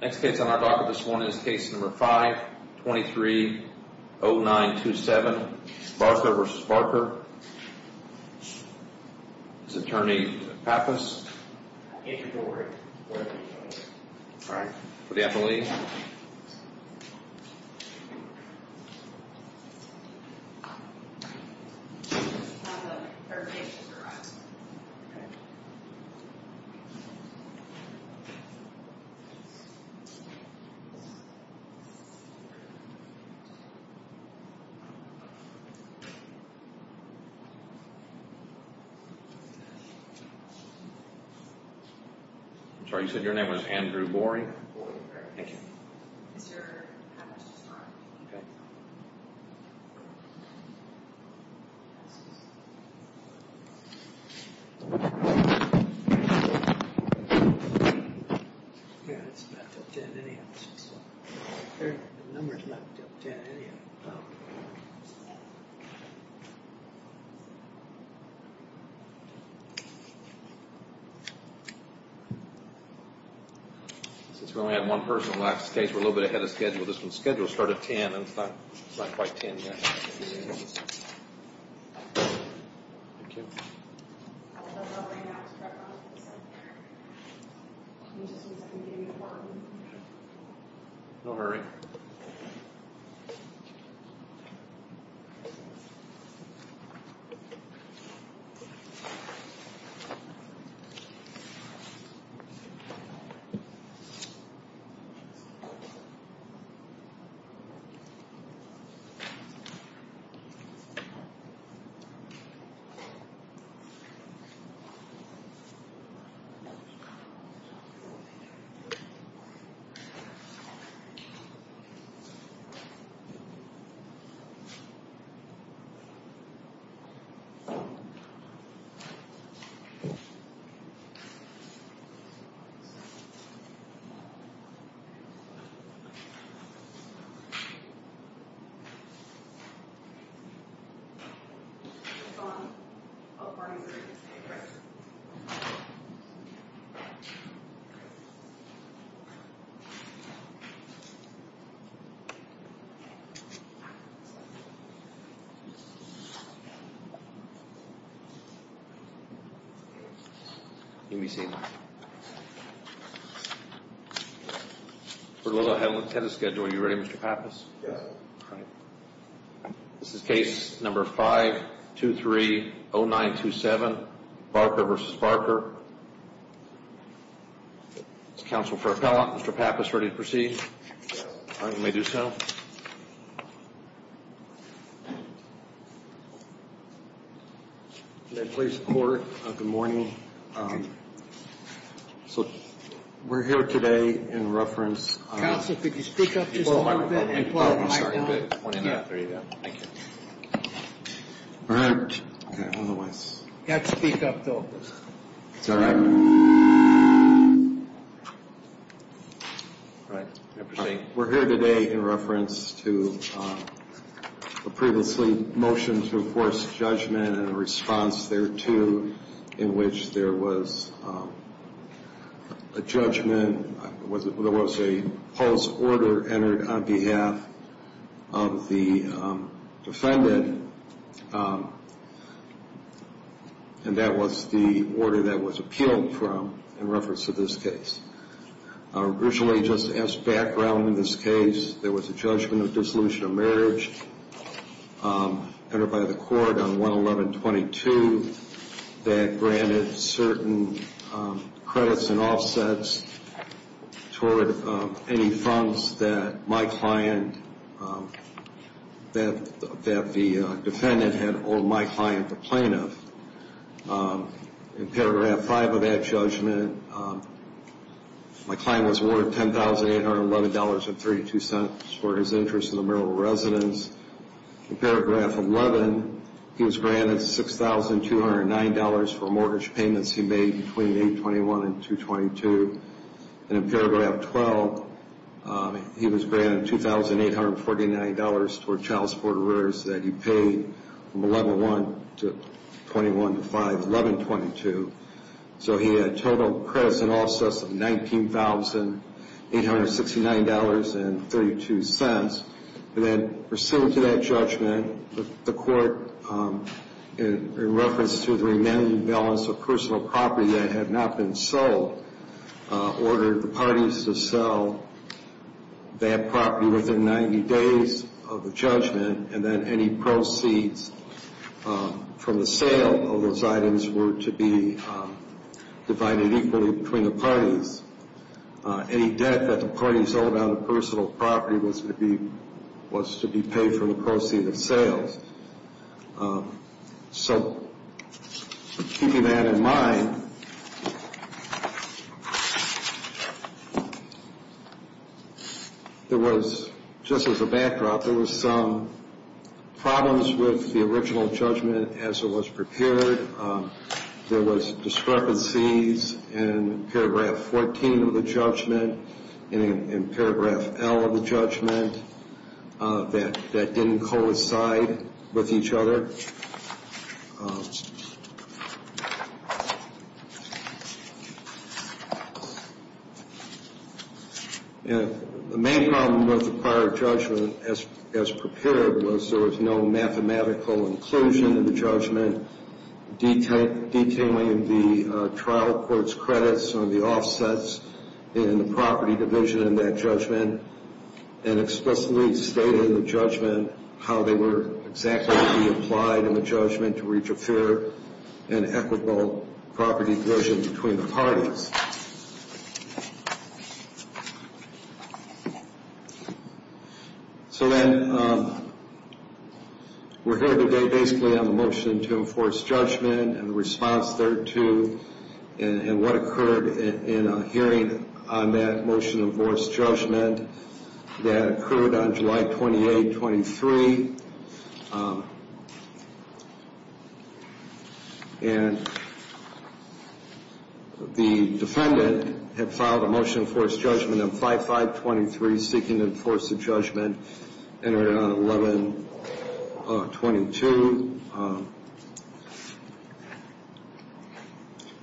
Next case on our docket, this one is case number 5, 230927, Barker v. Barker, this is Andrew Borey, Borey v. Barker, this is Andrew Borey, Borey v. Barker, this is Andrew Borey, Borey v. Barker, this is Andrew Borey, Borey v. Barken, this is Andrew Borey, Borey v. Barker. Don't worry. Don't worry. Don't worry. Don't worry. Don't worry. We're a little ahead with the schedule. Are you ready Mr. Pappas? Yes. This is case number 5-2-3-0-9-2-7. Barker v. Barker. This is counsel for appellant. Mr. Pappas, ready to proceed? Yes. All right, you may do so. May it please the court, good morning. So, we're here today in reference to... Counsel, could you speak up just a little bit? Can you pull up the microphone? Thank you. All right. We're here today in reference to a previously motioned to enforce judgment and a response thereto in which there was a judgment, there was a false order entered on behalf of the defendant. And that was the order that was appealed from in reference to this case. Originally, just as background in this case, there was a judgment of dissolution of marriage entered by the court on 111-22 that granted certain credits and offsets toward any funds that my client... The defendant had owed my client a plaintiff. In paragraph 5 of that judgment, my client was awarded $10,811.32 for his interest in the marital residence. In paragraph 11, he was granted $6,209 for mortgage payments he made between 8-21 and 2-22. And in paragraph 12, he was granted $2,849 for child support arrears that he paid from 11-1 to 21-5, 11-22. So, he had total credits and offsets of $19,869.32. And then, pursuant to that judgment, the court, in reference to the remaining balance of personal property that had not been sold, ordered the parties to sell that property within 90 days of the judgment, and then any proceeds from the sale of those items were to be divided equally between the parties. Any debt that the parties owed on the personal property was to be paid from the proceeds of sales. So, keeping that in mind, there was, just as a backdrop, there was some problems with the original judgment as it was prepared. There was discrepancies in paragraph 14 of the judgment and in paragraph L of the judgment that didn't coincide with each other. And the main problem with the prior judgment as prepared was there was no mathematical inclusion in the judgment detailing the trial court's credits or the offsets in the property division in that judgment, and explicitly stated in the judgment how they were exactly to be applied in the judgment to reach a fair and equitable property division between the parties. So then, we're here today basically on the motion to enforce judgment and the response there to and what occurred in a hearing on that motion to enforce judgment that occurred on July 28, 23. And the defendant had filed a motion to enforce judgment on 5-5-23, seeking to enforce the judgment, entered it on 11-22.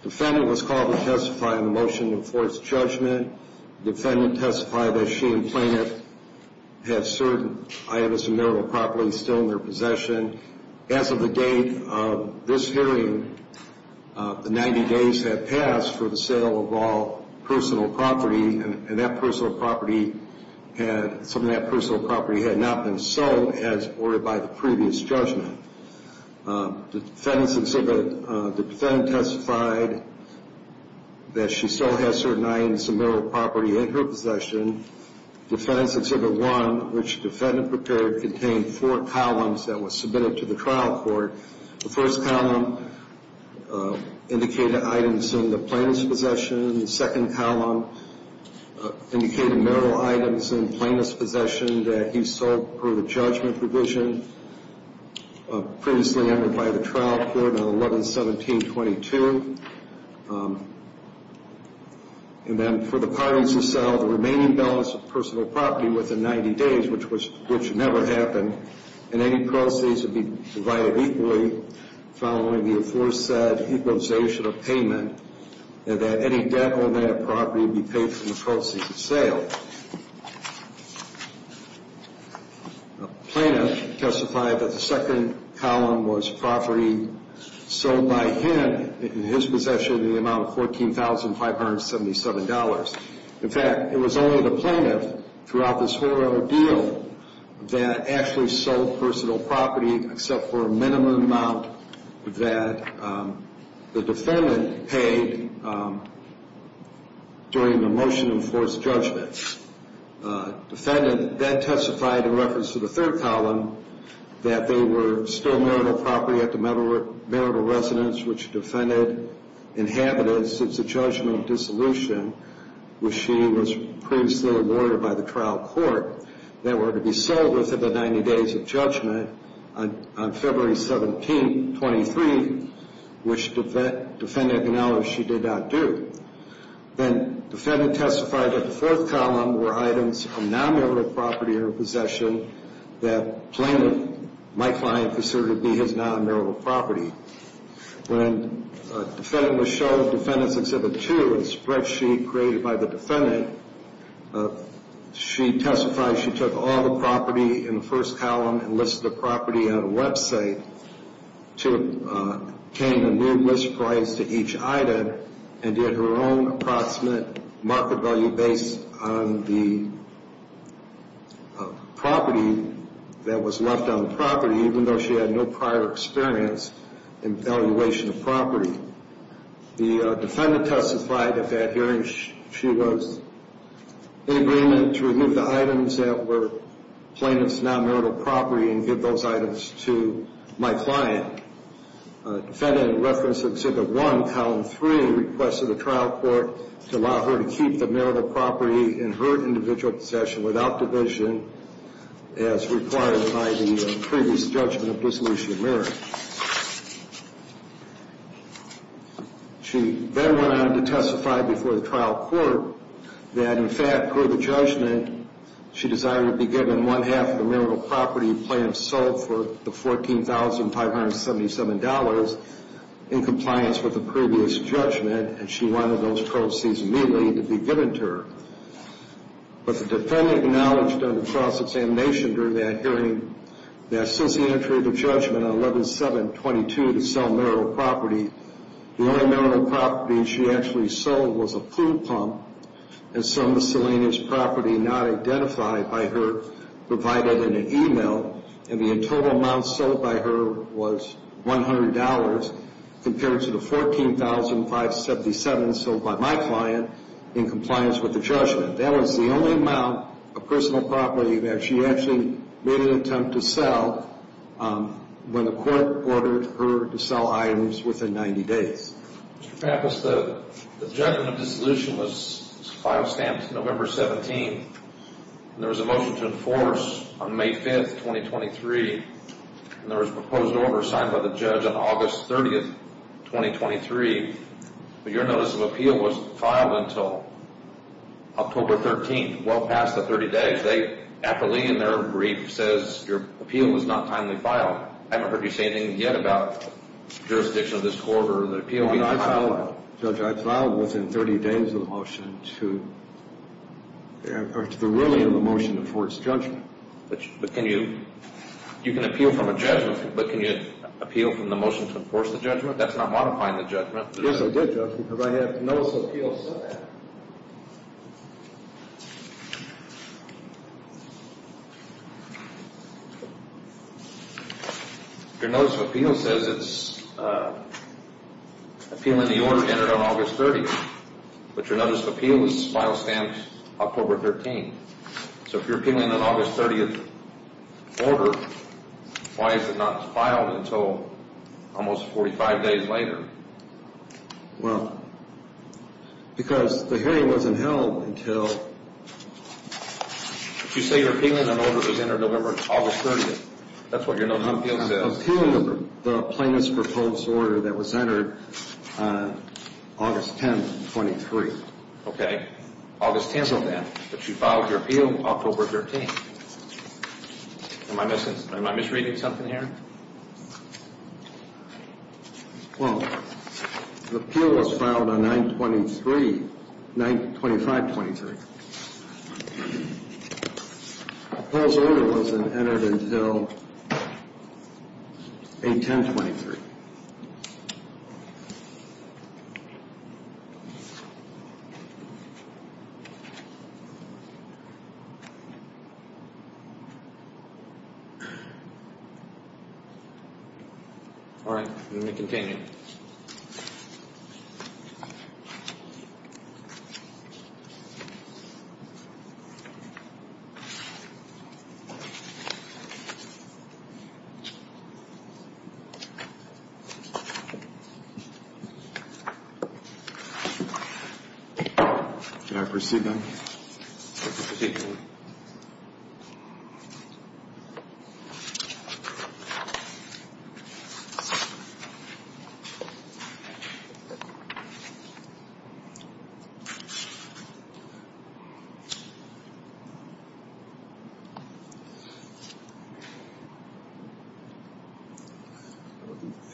Defendant was called to testify in the motion to enforce judgment. Defendant testified that she and plaintiff had certain items of marital property still in their possession. As of the date of this hearing, the 90 days had passed for the sale of all personal property and some of that personal property had not been sold as ordered by the previous judgment. The defendant testified that she still has certain items of marital property in her possession. Defendant's Exhibit 1, which the defendant prepared, contained four columns that were submitted to the trial court. The first column indicated items in the plaintiff's possession. The second column indicated marital items in plaintiff's possession that he sold per the judgment provision previously entered by the trial court on 11-17-22. And then, for the parties who sell the remaining balance of personal property within 90 days, which never happened, and any proceeds would be provided equally following the aforesaid equalization of payment, that any debt on that property would be paid from the proceeds of sale. Plaintiff testified that the second column was property sold by him in his possession in the amount of $14,577. In fact, it was only the plaintiff throughout this whole ordeal that actually sold personal property except for a minimum amount that the defendant paid during the motion enforced judgment. Defendant then testified in reference to the third column that they were still marital property at the marital residence which defendant inhabited since the judgment of dissolution, which she was previously awarded by the trial court, that were to be sold within the 90 days of judgment on February 17-23, which defendant acknowledged she did not do. Then, defendant testified that the fourth column were items from non-marital property in her possession that plaintiff, my client, considered to be his non-marital property. When the defendant was shown Defendant's Exhibit 2, a spreadsheet created by the defendant, she testified she took all the property in the first column and listed the property on a website, came a new list price to each item, and did her own approximate market value based on the property that was left on the property, even though she had no prior experience in valuation of property. The defendant testified at that hearing she was in agreement to remove the items that were plaintiff's non-marital property and give those items to my client. Defendant in reference to Exhibit 1, Column 3, requested the trial court to allow her to keep the marital property in her individual possession without division as required by the previous judgment of dissolution of marriage. She then went on to testify before the trial court that, in fact, per the judgment, she desired to be given one-half of the marital property planned sold for the $14,577 in compliance with the previous judgment, and she wanted those proceeds immediately to be given to her. But the defendant acknowledged under cross-examination during that hearing that since the entry of the judgment on 11-7-22 to sell marital property, the only marital property she actually sold was a food pump, and some miscellaneous property not identified by her provided in an email, and the total amount sold by her was $100 compared to the $14,577 sold by my client in compliance with the judgment. That was the only amount of personal property that she actually made an attempt to sell when the court ordered her to sell items within 90 days. Mr. Pappas, the judgment of dissolution was file stamped November 17th, and there was a motion to enforce on May 5th, 2023, and there was a proposed order signed by the judge on August 30th, 2023, but your notice of appeal was filed until October 13th, well past the 30 days. They accurately in their brief says your appeal was not timely filed. I haven't heard you say anything yet about jurisdiction of this court or the appeal being filed. Judge, I filed within 30 days of the motion to the ruling of the motion to enforce judgment. But can you appeal from a judgment? But can you appeal from the motion to enforce the judgment? That's not modifying the judgment. Yes, I did, Judge, because I have a notice of appeal that said that. Your notice of appeal says it's appealing the order entered on August 30th, but your notice of appeal is file stamped October 13th. So if you're appealing an August 30th order, why is it not filed until almost 45 days later? Well, because the hearing wasn't held until... You say you're appealing an order that was entered November, August 30th. That's what your notice of appeal says. I'm appealing the plaintiff's proposed order that was entered on August 10th, 2023. Okay. August 10th of that, but you filed your appeal October 13th. Am I misreading something here? Well, the appeal was filed on 9-25-23. The proposed order wasn't entered until 8-10-23. All right. Let me continue. All right.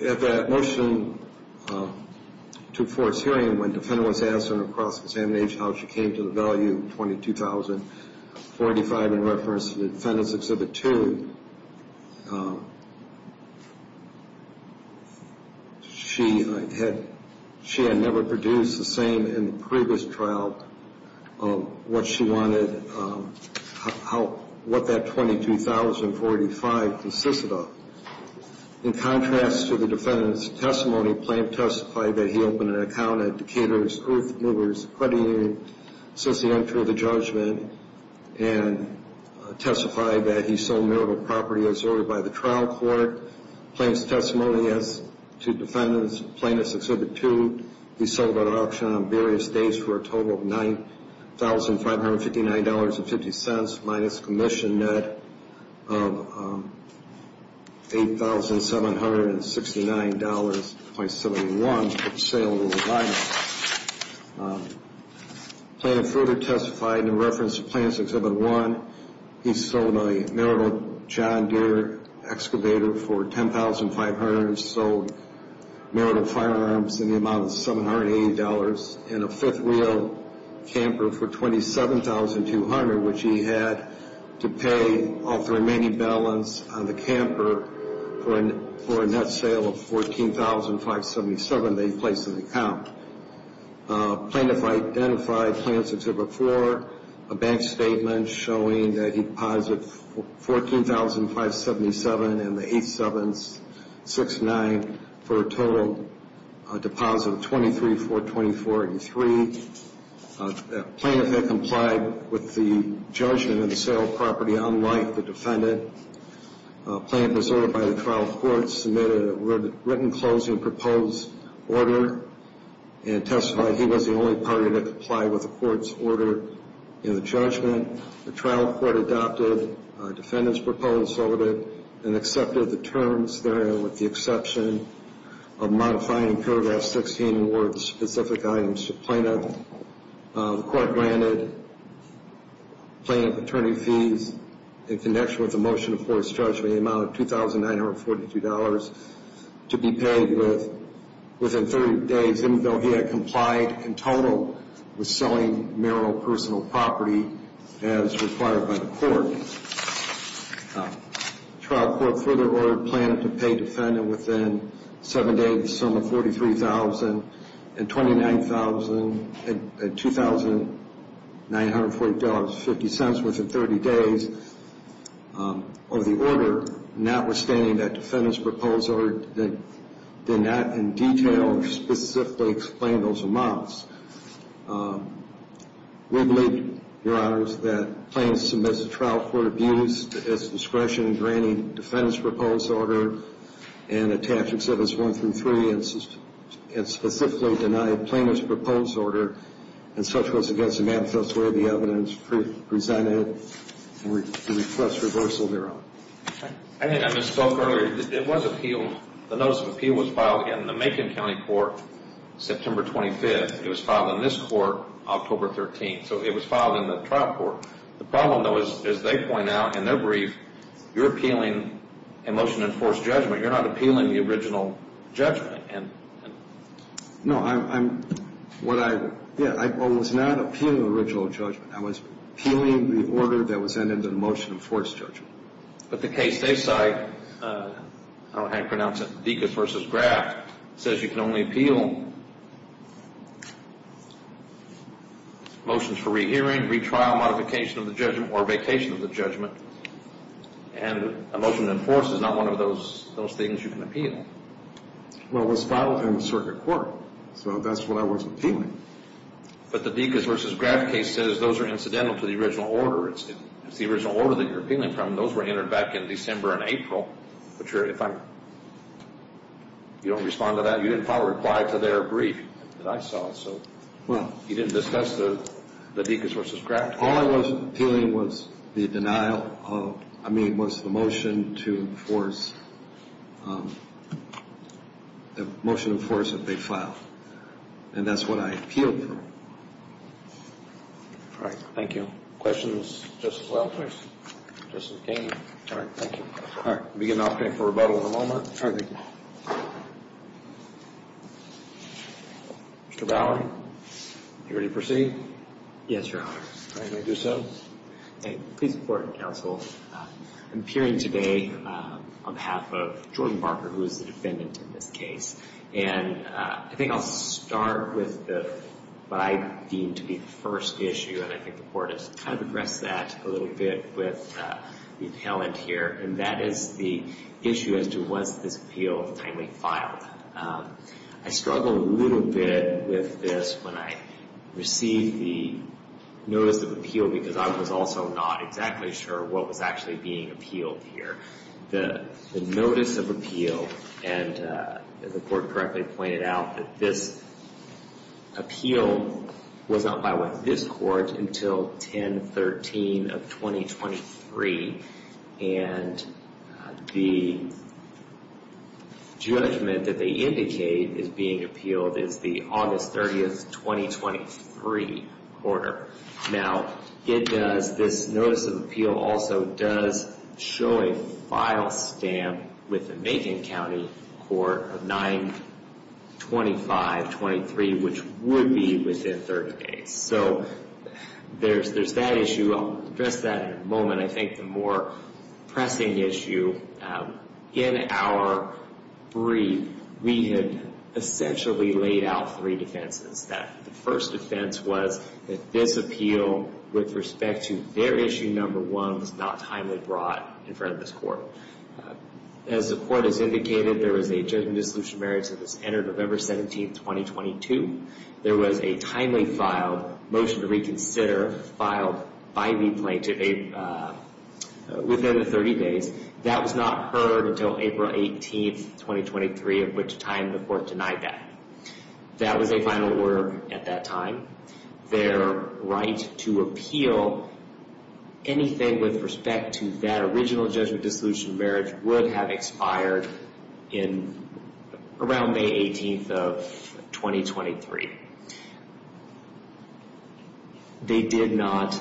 At that motion to force hearing, when the defendant was asked in her cross-examination how she came to the value 22,045 in reference to the defendant's Exhibit 2, she had never produced the same in the previous trial what she wanted, what that 22,045 consisted of. In contrast to the defendant's testimony, the plaintiff testified that he opened an account at Decatur's Earthmovers Accrediting Unit since the entry of the judgment and testified that he sold Miracle Property as ordered by the trial court. Plaintiff's testimony as to defendant's plaintiff's Exhibit 2, he sold at auction on various days for a total of $9,559.50 minus commission net of $8,769.71 for sale and revival. Plaintiff further testified in reference to Plaintiff's Exhibit 1, he sold a Miracle John Deere Excavator for $10,500, sold Miracle Firearms in the amount of $780 and a fifth-wheel camper for $27,200, which he had to pay off the remaining balance on the camper for a net sale of $14,577 that he placed in the account. Plaintiff identified Plaintiff's Exhibit 4, a bank statement showing that he deposited $14,577 in the $8,769 for a total deposit of $23,424.83. Plaintiff had complied with the judgment of the sale of property unlike the defendant. Plaintiff was ordered by the trial court to submit a written closing proposed order and testified he was the only party to comply with the court's order in the judgment. The trial court adopted the defendant's proposed order and accepted the terms therein with the exception of modifying paragraph 16 or the specific items to Plaintiff. The court granted Plaintiff attorney fees in connection with the motion of court's judgment in the amount of $2,942 to be paid within 30 days, even though he had complied in total with selling Miracle personal property as required by the court. The trial court further ordered Plaintiff to pay defendant within 7 days of the sum of $43,000 and $2,942.50 within 30 days of the order, notwithstanding that defendant's proposed order did not in detail or specifically explain those amounts. We believe, Your Honors, that Plaintiff submits a trial court abuse as discretion in granting defendant's proposed order and attached exceptions 1 through 3 and specifically denied Plaintiff's proposed order and such was against the manifest way the evidence presented and we request reversal thereof. I think I misspoke earlier. It was appealed. The notice of appeal was filed in the Macon County Court September 25th. It was filed in this court October 13th, so it was filed in the trial court. The problem, though, is as they point out in their brief, you're appealing a motion of forced judgment. You're not appealing the original judgment. No, I'm, what I, yeah, I was not appealing the original judgment. I was appealing the order that was sent into the motion of forced judgment. But the case they cite, I don't know how to pronounce it, Dikas v. Graff, says you can only appeal motions for rehearing, retrial, modification of the judgment, or vacation of the judgment, and a motion of forced is not one of those things you can appeal. Well, it was filed in the circuit court, so that's what I wasn't appealing. But the Dikas v. Graff case says those are incidental to the original order. It's the original order that you're appealing from. Those were entered back in December and April. But you're, if I'm, you don't respond to that, you didn't probably reply to their brief that I saw. So you didn't discuss the Dikas v. Graff? All I was appealing was the denial of, I mean, was the motion to enforce, the motion of force that they filed. And that's what I appealed for. All right. Thank you. Questions? Justice Walters? Justice Kagan? All right. Thank you. All right. We'll begin the opening for rebuttal in a moment. Mr. Bowery, are you ready to proceed? Yes, Your Honor. All right. May I do so? Please report, counsel. I'm appearing today on behalf of Jordan Barker, who is the defendant in this case. And I think I'll start with what I deem to be the first issue. And I think the Court has kind of addressed that a little bit with the appellant here. And that is the issue as to was this appeal timely filed. I struggled a little bit with this when I received the notice of appeal because I was also not exactly sure what was actually being appealed here. The notice of appeal, and the Court correctly pointed out that this appeal was not by this Court until 10-13 of 2023. And the judgment that they indicate is being appealed is the August 30th, 2023 quarter. Now, this notice of appeal also does show a file stamp with the Macon County Court of 9-25-23, which would be within 30 days. So there's that issue. I'll address that in a moment. I think the more pressing issue in our brief, we had essentially laid out three defenses. The first defense was that this appeal, with respect to their issue number one, was not timely brought in front of this Court. As the Court has indicated, there was a judgment of dissolution of merits that was entered November 17, 2022. There was a timely filed motion to reconsider filed by the plaintiff within the 30 days. That was not heard until April 18, 2023, at which time the Court denied that. That was a final order at that time. Their right to appeal anything with respect to that original judgment of dissolution of merits would have expired around May 18, 2023. They did not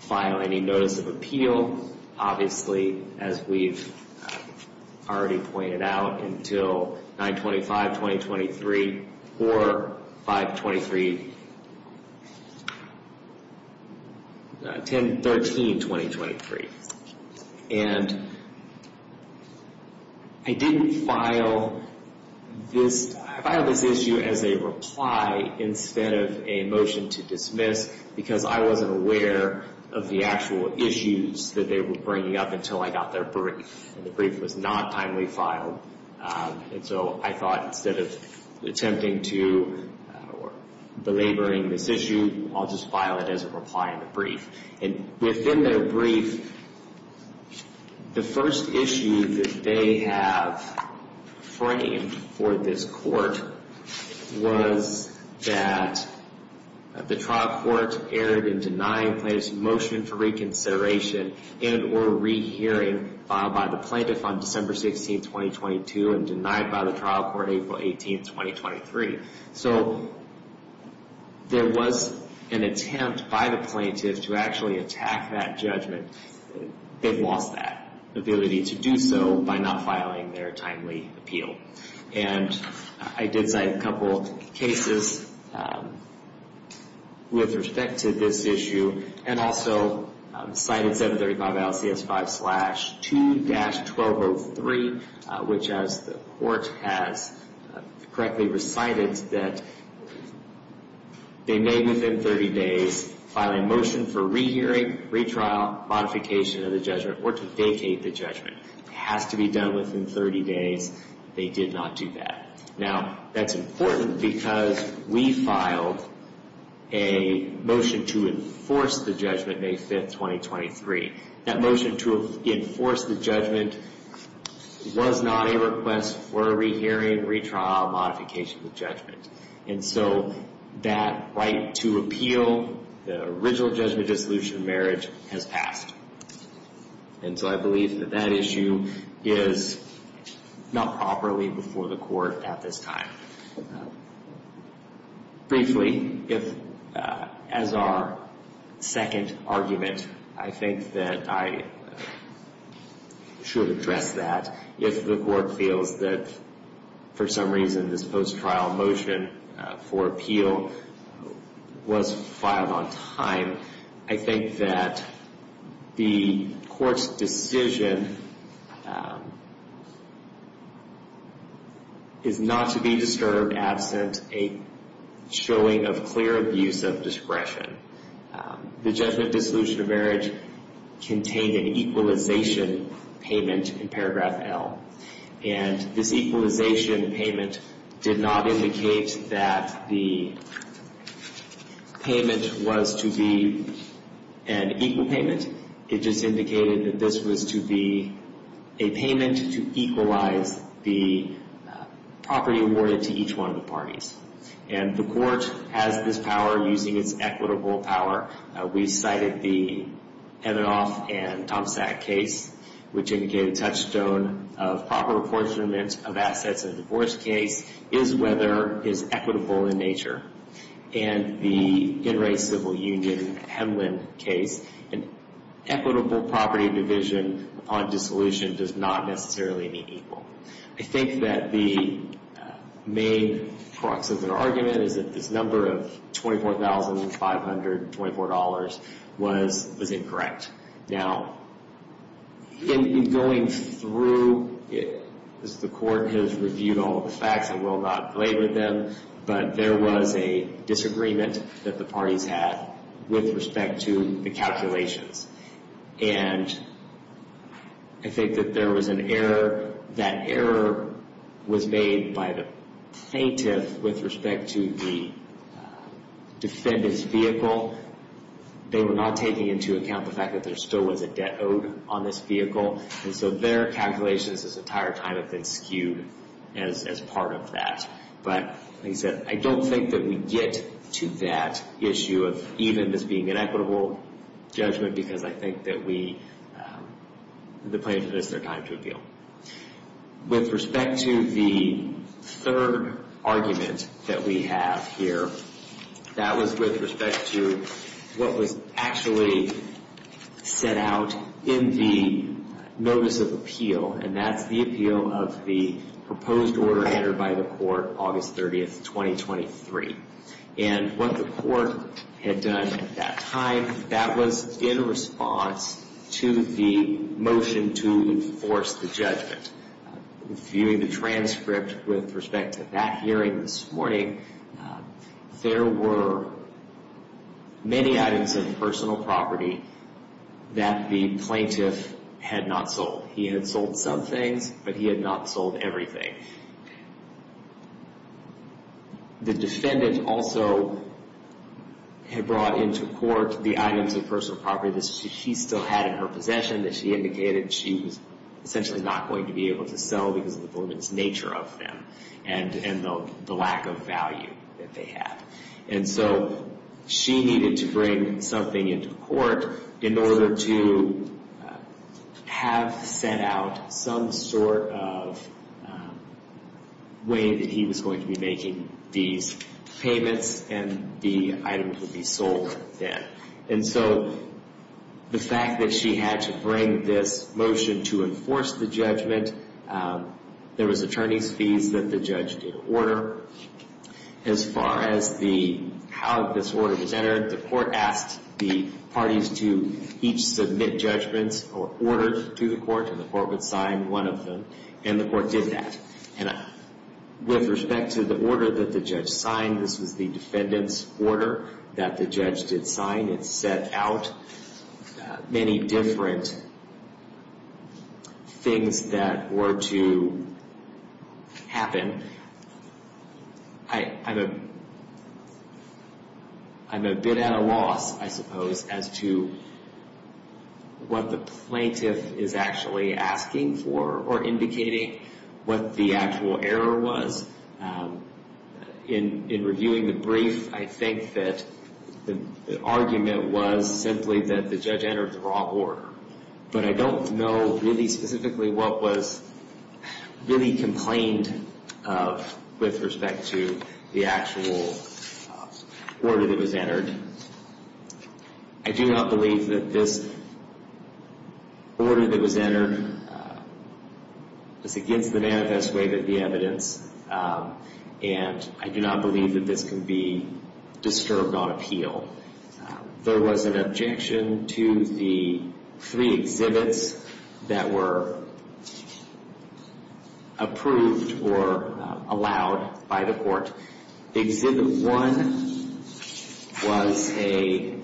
file any notice of appeal, obviously, as we've already pointed out, until 9-25-2023 or 5-23, 10-13-2023. And I didn't file this issue as a reply instead of a motion to dismiss because I wasn't aware of the actual issues that they were bringing up until I got their brief. And the brief was not timely filed. And so I thought instead of attempting to belaboring this issue, I'll just file it as a reply in the brief. And within their brief, the first issue that they have framed for this Court was that the trial court erred in denying plaintiff's motion for reconsideration and or rehearing filed by the plaintiff on December 16, 2022 and denied by the trial court April 18, 2023. So there was an attempt by the plaintiff to actually attack that judgment. They've lost that ability to do so by not filing their timely appeal. And I did cite a couple cases with respect to this issue and also cited 735 LCS 5-2-1203, which as the Court has correctly recited, that they may within 30 days file a motion for rehearing, retrial, modification of the judgment or to vacate the judgment. It has to be done within 30 days. They did not do that. Now, that's important because we filed a motion to enforce the judgment May 5, 2023. That motion to enforce the judgment was not a request for a rehearing, retrial, modification of the judgment. And so that right to appeal the original judgment dissolution of marriage has passed. And so I believe that that issue is not properly before the Court at this time. Briefly, as our second argument, I think that I should address that. If the Court feels that for some reason this post-trial motion for appeal was filed on time, I think that the Court's decision is not to be disturbed absent a showing of clear abuse of discretion. The judgment dissolution of marriage contained an equalization payment in paragraph L. And this equalization payment did not indicate that the payment was to be an equal payment. It just indicated that this was to be a payment to equalize the property awarded to each one of the parties. And the Court has this power using its equitable power. We cited the Heminoff and Tomsak case, which indicated a touchstone of proper apportionment of assets in a divorce case, is whether is equitable in nature. And the Inright Civil Union-Hemlin case, an equitable property division on dissolution does not necessarily mean equal. I think that the main crux of the argument is that this number of $24,524 was incorrect. Now, in going through, as the Court has reviewed all the facts, I will not belabor them, but there was a disagreement that the parties had with respect to the calculations. And I think that there was an error. That error was made by the plaintiff with respect to the defendant's vehicle. They were not taking into account the fact that there still was a debt owed on this vehicle. And so their calculations this entire time have been skewed as part of that. But, like I said, I don't think that we get to that issue of even this being an equitable judgment because I think that we, the plaintiff missed their time to appeal. With respect to the third argument that we have here, that was with respect to what was actually set out in the Notice of Appeal. And that's the appeal of the proposed order entered by the Court, August 30, 2023. And what the Court had done at that time, that was in response to the motion to enforce the judgment. Viewing the transcript with respect to that hearing this morning, there were many items of personal property that the plaintiff had not sold. He had sold some things, but he had not sold everything. The defendant also had brought into court the items of personal property that she still had in her possession, that she indicated she was essentially not going to be able to sell because of the woman's nature of them and the lack of value that they had. And so she needed to bring something into court in order to have set out some sort of way that he was going to be making these payments and the items would be sold then. And so the fact that she had to bring this motion to enforce the judgment, there was attorney's fees that the judge did order. As far as how this order was entered, the Court asked the parties to each submit judgments or orders to the Court, and the Court would sign one of them, and the Court did that. And with respect to the order that the judge signed, this was the defendant's order that the judge did sign. It set out many different things that were to happen. I'm a bit at a loss, I suppose, as to what the plaintiff is actually asking for or indicating what the actual error was. In reviewing the brief, I think that the argument was simply that the judge entered the wrong order. But I don't know really specifically what was really complained of with respect to the actual order that was entered. I do not believe that this order that was entered was against the manifest way that the evidence, and I do not believe that this can be disturbed on appeal. There was an objection to the three exhibits that were approved or allowed by the Court. Exhibit one was a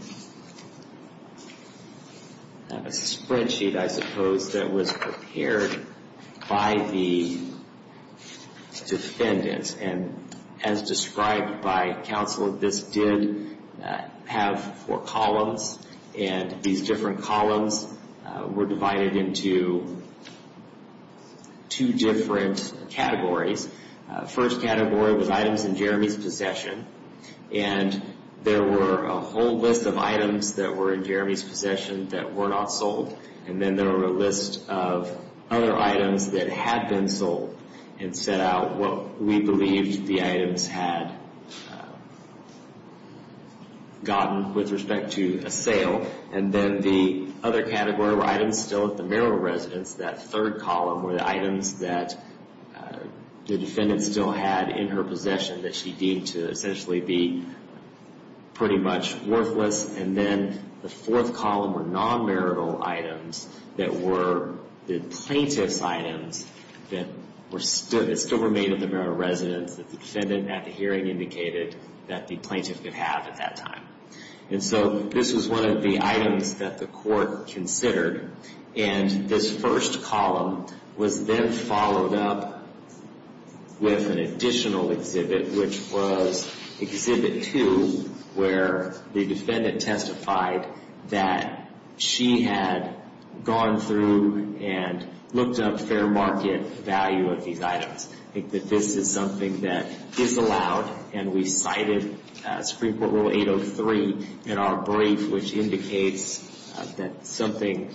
spreadsheet, I suppose, that was prepared by the defendant. And as described by counsel, this did have four columns, and these different columns were divided into two different categories. The first category was items in Jeremy's possession, and there were a whole list of items that were in Jeremy's possession that were not sold. And then there were a list of other items that had been sold and set out what we believed the items had gotten with respect to a sale. And then the other category were items still at the mayoral residence. That third column were the items that the defendant still had in her possession that she deemed to essentially be pretty much worthless. And then the fourth column were non-marital items that were the plaintiff's items that still remained at the mayoral residence that the defendant at the hearing indicated that the plaintiff could have at that time. And so this was one of the items that the Court considered. And this first column was then followed up with an additional exhibit, which was exhibit two, where the defendant testified that she had gone through and looked up fair market value of these items. I think that this is something that is allowed, and we cited Supreme Court Rule 803 in our brief, which indicates that something,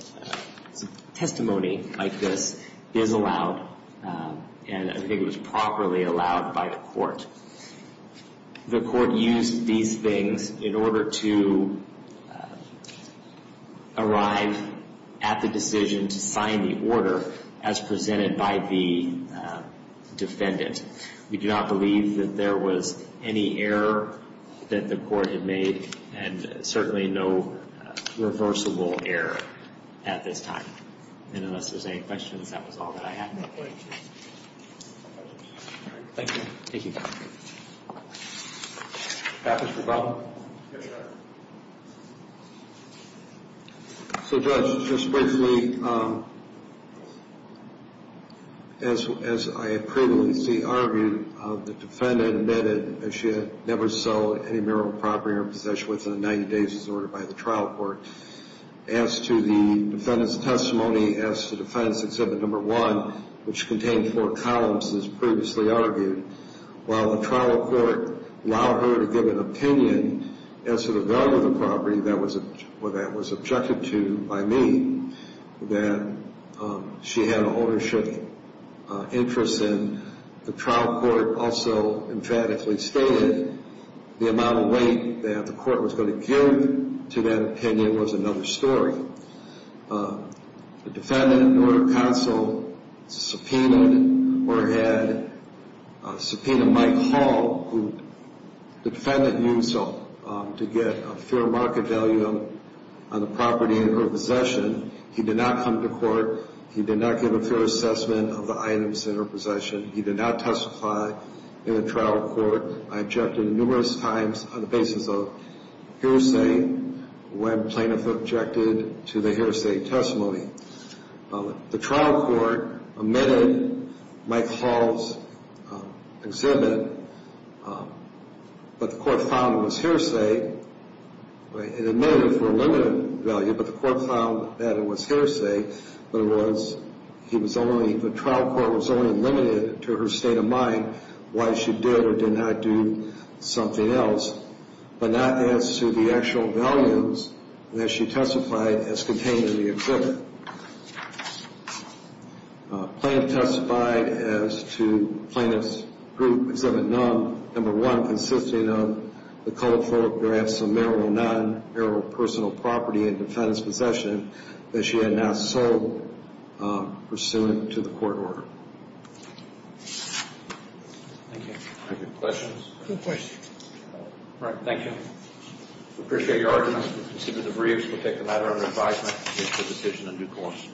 testimony like this is allowed, and I think it was properly allowed by the Court. The Court used these things in order to arrive at the decision to sign the order as presented by the defendant. We do not believe that there was any error that the Court had made and certainly no reversible error at this time. And unless there's any questions, that was all that I had. Thank you. So, Judge, just briefly, as I previously argued, the defendant admitted that she had never sold any marital property or possession within 90 days as ordered by the trial court. As to the defendant's testimony, as to the defendant's exhibit number one, which contained four columns as previously argued, while the trial court allowed her to give an opinion, as to the value of the property that was objected to by me, that she had an ownership interest in, the trial court also emphatically stated the amount of weight that the court was going to give to that opinion was another story. The defendant in order of counsel subpoenaed or had subpoenaed Mike Hall, who the defendant used to get a fair market value on the property or possession. He did not come to court. He did not give a fair assessment of the items in her possession. He did not testify in the trial court. I objected numerous times on the basis of hearsay. The plaintiff objected to the hearsay testimony. The trial court admitted Mike Hall's exhibit, but the court found it was hearsay. It admitted for a limited value, but the court found that it was hearsay. The trial court was only limited to her state of mind, why she did or did not do something else. But not as to the actual values that she testified as contained in the exhibit. The plaintiff testified as to plaintiff's group exhibit number one, consisting of the colorful graphs of marital non-marital personal property and defendant's possession that she had not sold pursuant to the court order. Thank you. Any questions? No questions. All right. Thank you. We appreciate your arguments. Consider the briefs. We'll take the matter under advisement and make the decision in due course.